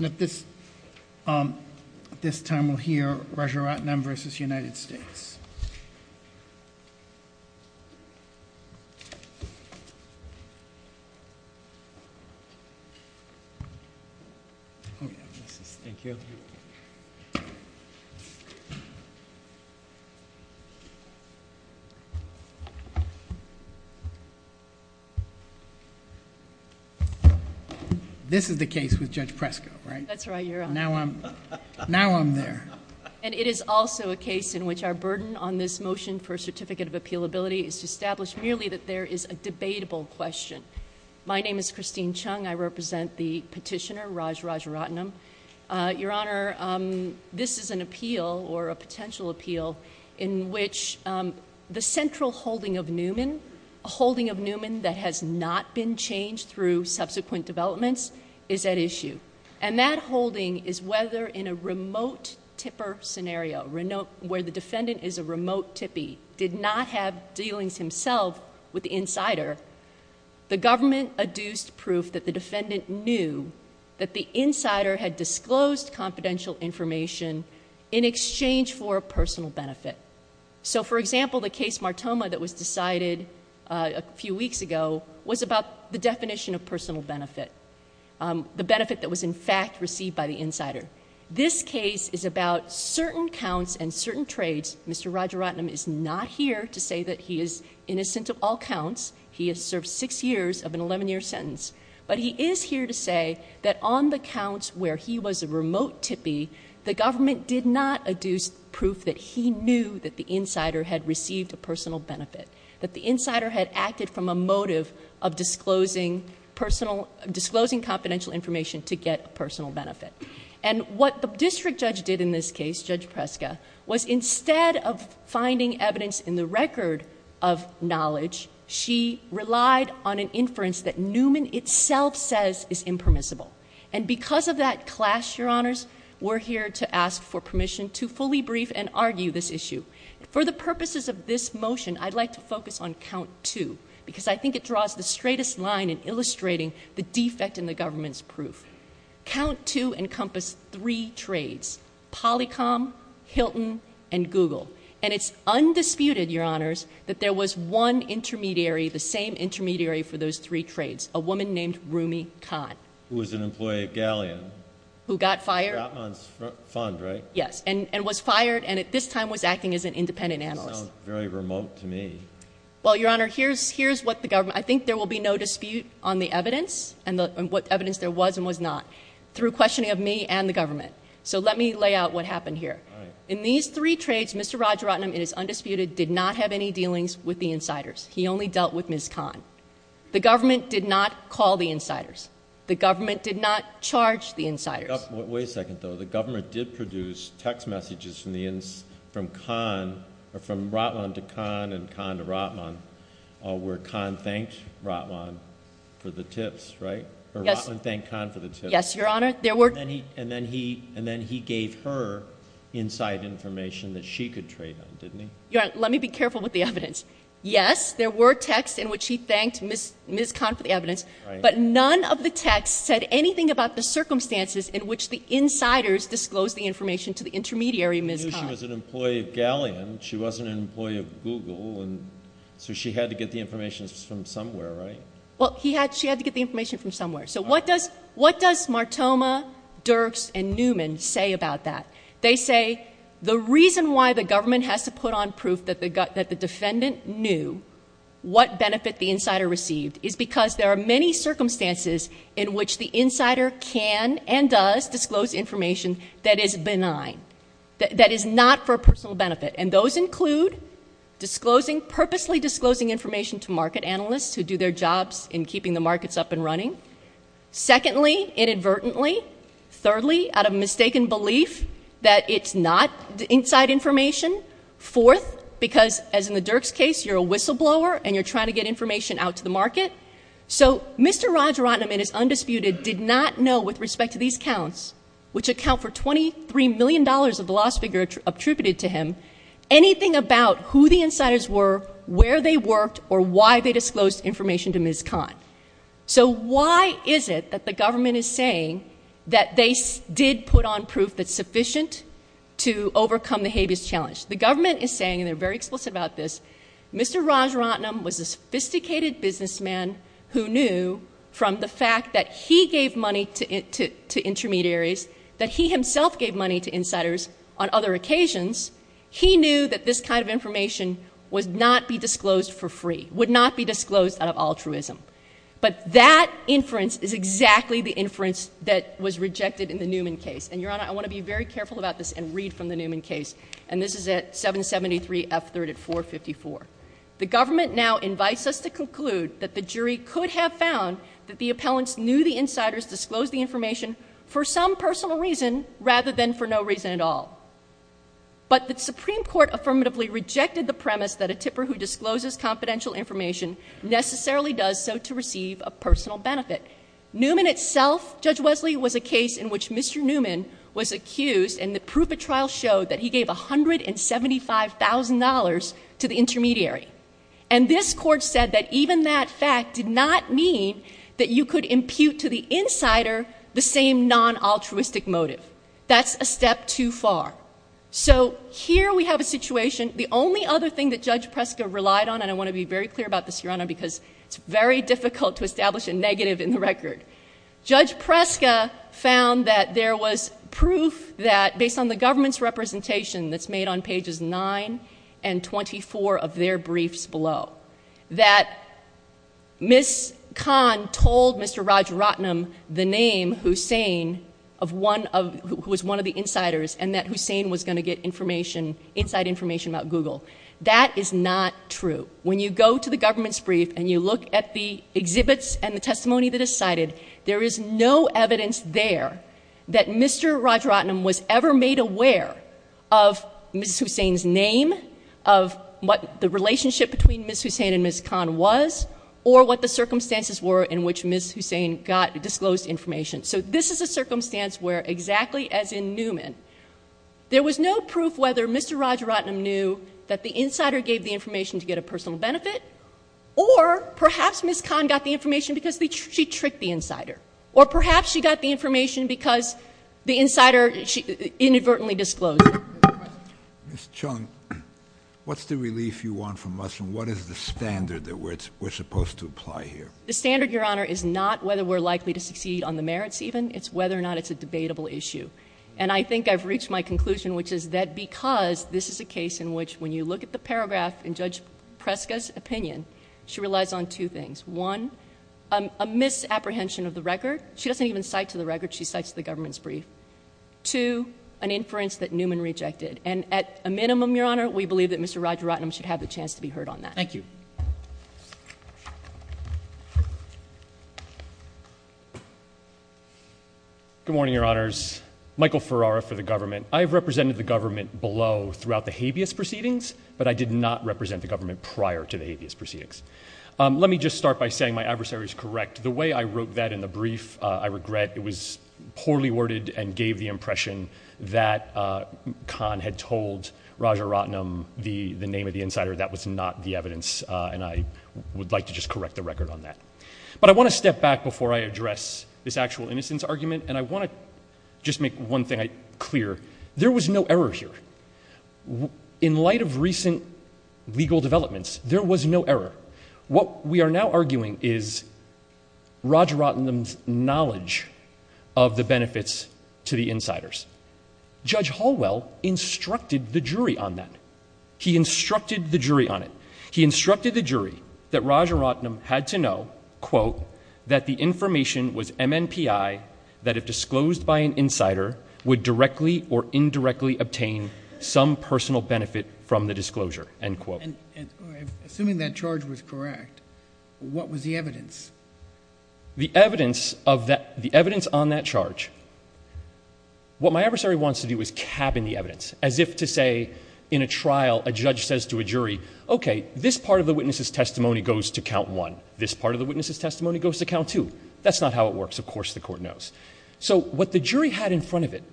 At this time, we'll hear Rajaratnam v. United States. Oh yeah, this is, thank you. This is the case with Judge Presco, right? That's right, Your Honor. Now I'm, now I'm there. And it is also a case in which our burden on this motion for a certificate of appealability is to establish merely that there is a debatable question. My name is Christine Chung. I represent the petitioner, Raj Rajaratnam. Your Honor, this is an appeal, or a potential appeal, in which the central holding of Newman, a holding of Newman that has not been changed through subsequent developments, is at issue. And that holding is whether in a remote tipper scenario, where the defendant is a remote tippy, did not have dealings himself with the insider, the government adduced proof that the defendant knew that the insider had disclosed confidential information in exchange for a personal benefit. So, for example, the case Martoma that was decided a few weeks ago was about the definition of personal benefit. The benefit that was in fact received by the insider. This case is about certain counts and certain trades. Mr. Rajaratnam is not here to say that he is innocent of all counts. He has served six years of an 11-year sentence. But he is here to say that on the counts where he was a remote tippy, the government did not adduce proof that he knew that the insider had received a personal benefit. That the insider had acted from a motive of disclosing personal, disclosing confidential information to get a personal benefit. And what the district judge did in this case, Judge Preska, was instead of finding evidence in the record of knowledge, she relied on an inference that Newman itself says is impermissible. And because of that clash, your honors, we're here to ask for permission to fully brief and argue this issue. For the purposes of this motion, I'd like to focus on count two. Because I think it draws the straightest line in illustrating the defect in the government's proof. Count two encompassed three trades. Polycom, Hilton, and Google. And it's undisputed, your honors, that there was one intermediary, the same intermediary for those three trades. A woman named Rumi Khan. Who was an employee of Galleon. Who got fired. Gotman's fund, right? Yes. And was fired and at this time was acting as an independent analyst. Sounds very remote to me. Well, your honor, here's what the government, I think there will be no dispute on the evidence. And what evidence there was and was not. Through questioning of me and the government. So let me lay out what happened here. In these three trades, Mr. Rajaratnam, it is undisputed, did not have any dealings with the insiders. He only dealt with Ms. Khan. The government did not call the insiders. The government did not charge the insiders. Wait a second, though. The government did produce text messages from Khan, or from Ratlan to Khan and Khan to Ratlan. Where Khan thanked Ratlan for the tips, right? Or Ratlan thanked Khan for the tips. Yes, your honor. And then he gave her inside information that she could trade on, didn't he? Your honor, let me be careful with the evidence. But none of the text said anything about the circumstances in which the insiders disclosed the information to the intermediary, Ms. Khan. She knew she was an employee of Galleon. She wasn't an employee of Google. So she had to get the information from somewhere, right? Well, she had to get the information from somewhere. So what does Martoma, Dirks, and Newman say about that? They say the reason why the government has to put on proof that the defendant knew what benefit the insider received is because there are many circumstances in which the insider can and does disclose information that is benign, that is not for personal benefit. And those include purposely disclosing information to market analysts who do their jobs in keeping the markets up and running. Secondly, inadvertently. Thirdly, out of mistaken belief that it's not inside information. Fourth, because, as in the Dirks case, you're a whistleblower and you're trying to get information out to the market. So Mr. Rajaratnam, in his undisputed, did not know with respect to these counts, which account for $23 million of the lost figure attributed to him, anything about who the insiders were, where they worked, or why they disclosed information to Ms. Khan. So why is it that the government is saying that they did put on proof that's sufficient to overcome the habeas challenge? The government is saying, and they're very explicit about this, Mr. Rajaratnam was a sophisticated businessman who knew from the fact that he gave money to intermediaries, that he himself gave money to insiders on other occasions, he knew that this kind of information would not be disclosed for free, would not be disclosed out of altruism. But that inference is exactly the inference that was rejected in the Newman case. And, Your Honor, I want to be very careful about this and read from the Newman case. And this is at 773 F. 3rd at 454. The government now invites us to conclude that the jury could have found that the appellants knew the insiders disclosed the information for some personal reason rather than for no reason at all. But the Supreme Court affirmatively rejected the premise that a tipper who discloses confidential information necessarily does so to receive a personal benefit. Newman itself, Judge Wesley, was a case in which Mr. Newman was accused and the proof of trial showed that he gave $175,000 to the intermediary. And this Court said that even that fact did not mean that you could impute to the insider the same non-altruistic motive. That's a step too far. So here we have a situation. The only other thing that Judge Preska relied on, and I want to be very clear about this, Your Honor, because it's very difficult to establish a negative in the record. Judge Preska found that there was proof that, based on the government's representation that's made on pages 9 and 24 of their briefs below, that Ms. Kahn told Mr. Rajaratnam the name Hussain, who was one of the insiders, and that Hussain was going to get inside information about Google. That is not true. When you go to the government's brief and you look at the exhibits and the testimony that is cited, there is no evidence there that Mr. Rajaratnam was ever made aware of Ms. Hussain's name, of what the relationship between Ms. Hussain and Ms. Kahn was, or what the circumstances were in which Ms. Hussain got disclosed information. So this is a circumstance where, exactly as in Newman, there was no proof whether Mr. Rajaratnam knew that the insider gave the information to get a personal benefit, or perhaps Ms. Kahn got the information because she tricked the insider, or perhaps she got the information because the insider inadvertently disclosed it. Ms. Chung, what's the relief you want from us, and what is the standard that we're supposed to apply here? The standard, Your Honor, is not whether we're likely to succeed on the merits even. It's whether or not it's a debatable issue. And I think I've reached my conclusion, which is that because this is a case in which, when you look at the paragraph in Judge Preska's opinion, she relies on two things. One, a misapprehension of the record. She doesn't even cite to the record. She cites the government's brief. Two, an inference that Newman rejected. And at a minimum, Your Honor, we believe that Mr. Rajaratnam should have the chance to be heard on that. Thank you. Good morning, Your Honors. Michael Ferrara for the government. I have represented the government below throughout the habeas proceedings, but I did not represent the government prior to the habeas proceedings. Let me just start by saying my adversary is correct. The way I wrote that in the brief, I regret. It was poorly worded and gave the impression that Kahn had told Rajaratnam the name of the insider. That was not the evidence, and I would like to just correct the record on that. But I want to step back before I address this actual innocence argument, and I want to just make one thing clear. There was no error here. In light of recent legal developments, there was no error. What we are now arguing is Rajaratnam's knowledge of the benefits to the insiders. Judge Hallwell instructed the jury on that. He instructed the jury on it. He instructed the jury that Rajaratnam had to know, quote, that the information was MNPI, that if disclosed by an insider, would directly or indirectly obtain some personal benefit from the disclosure, end quote. Assuming that charge was correct, what was the evidence? The evidence on that charge, what my adversary wants to do is cap in the evidence, as if to say in a trial a judge says to a jury, okay, this part of the witness's testimony goes to count one. This part of the witness's testimony goes to count two. That's not how it works. Of course the court knows. So what the jury had in front of it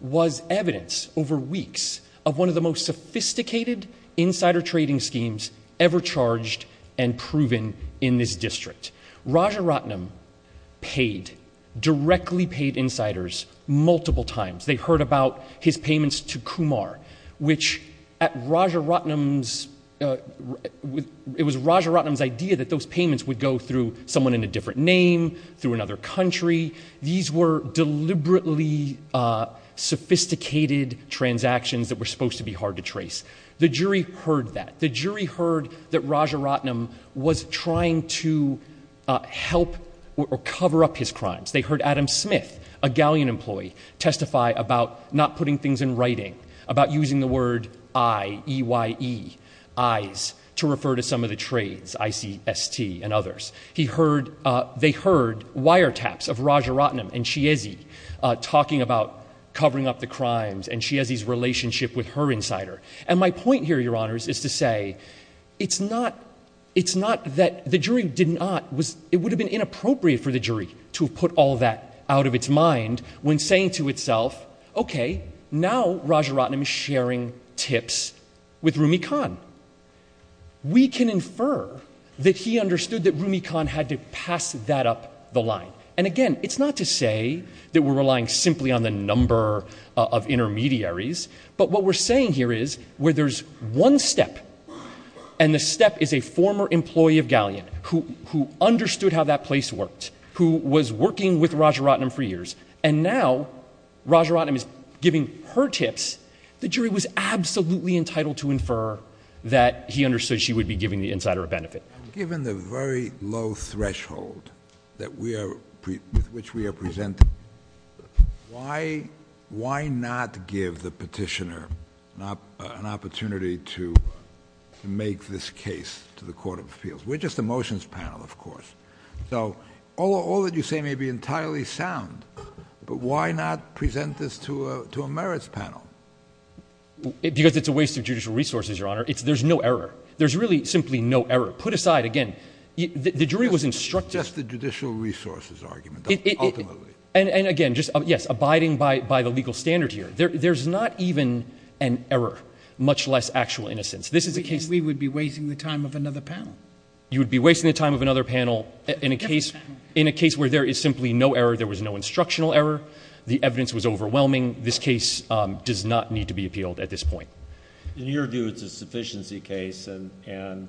was evidence over weeks of one of the most sophisticated insider trading schemes ever charged and proven in this district. Rajaratnam paid, directly paid insiders multiple times. They heard about his payments to Kumar, which at Rajaratnam's, it was Rajaratnam's idea that those payments would go through someone in a different name, through another country. These were deliberately sophisticated transactions that were supposed to be hard to trace. The jury heard that. The jury heard that Rajaratnam was trying to help or cover up his crimes. They heard Adam Smith, a Galleon employee, testify about not putting things in writing, about using the word I-E-Y-E, eyes, to refer to some of the trades, I-C-S-T and others. They heard wiretaps of Rajaratnam and Chiesi talking about covering up the crimes and Chiesi's relationship with her insider. And my point here, Your Honors, is to say it's not that the jury did not, it would have been inappropriate for the jury to have put all that out of its mind when saying to itself, okay, now Rajaratnam is sharing tips with Rumi Khan. We can infer that he understood that Rumi Khan had to pass that up the line. And again, it's not to say that we're relying simply on the number of intermediaries, but what we're saying here is where there's one step and the step is a former employee of Galleon who understood how that place worked, who was working with Rajaratnam for years, and now Rajaratnam is giving her tips, the jury was absolutely entitled to infer that he understood she would be giving the insider a benefit. Given the very low threshold with which we are presenting, why not give the petitioner an opportunity to make this case to the Court of Appeals? We're just a motions panel, of course. So all that you say may be entirely sound, but why not present this to a merits panel? Because it's a waste of judicial resources, Your Honor. There's no error. There's really simply no error. Put aside, again, the jury was instructed. Just the judicial resources argument, ultimately. And again, just, yes, abiding by the legal standard here. There's not even an error, much less actual innocence. We would be wasting the time of another panel. You would be wasting the time of another panel in a case where there is simply no error. There was no instructional error. The evidence was overwhelming. This case does not need to be appealed at this point. In your view, it's a sufficiency case, and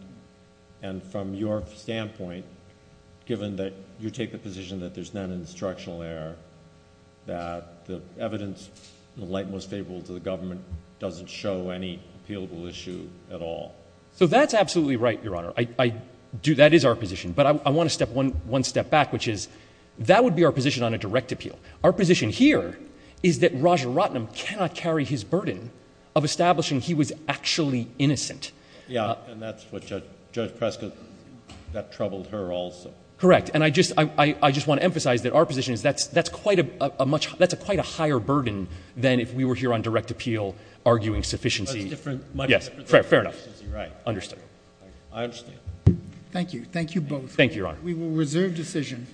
from your standpoint, given that you take the position that there's not an instructional error, that the evidence, in the light most favorable to the government, doesn't show any appealable issue at all? So that's absolutely right, Your Honor. That is our position. But I want to step one step back, which is that would be our position on a direct appeal. Our position here is that Raja Ratnam cannot carry his burden of establishing he was actually innocent. Yeah, and that's what Judge Prescott, that troubled her also. Correct. And I just want to emphasize that our position is that's quite a higher burden than if we were here on direct appeal arguing sufficiency. That's different. Yes, fair enough. Right. Understood. I understand. Thank you. Thank you both. Thank you, Your Honor. We will reserve decision.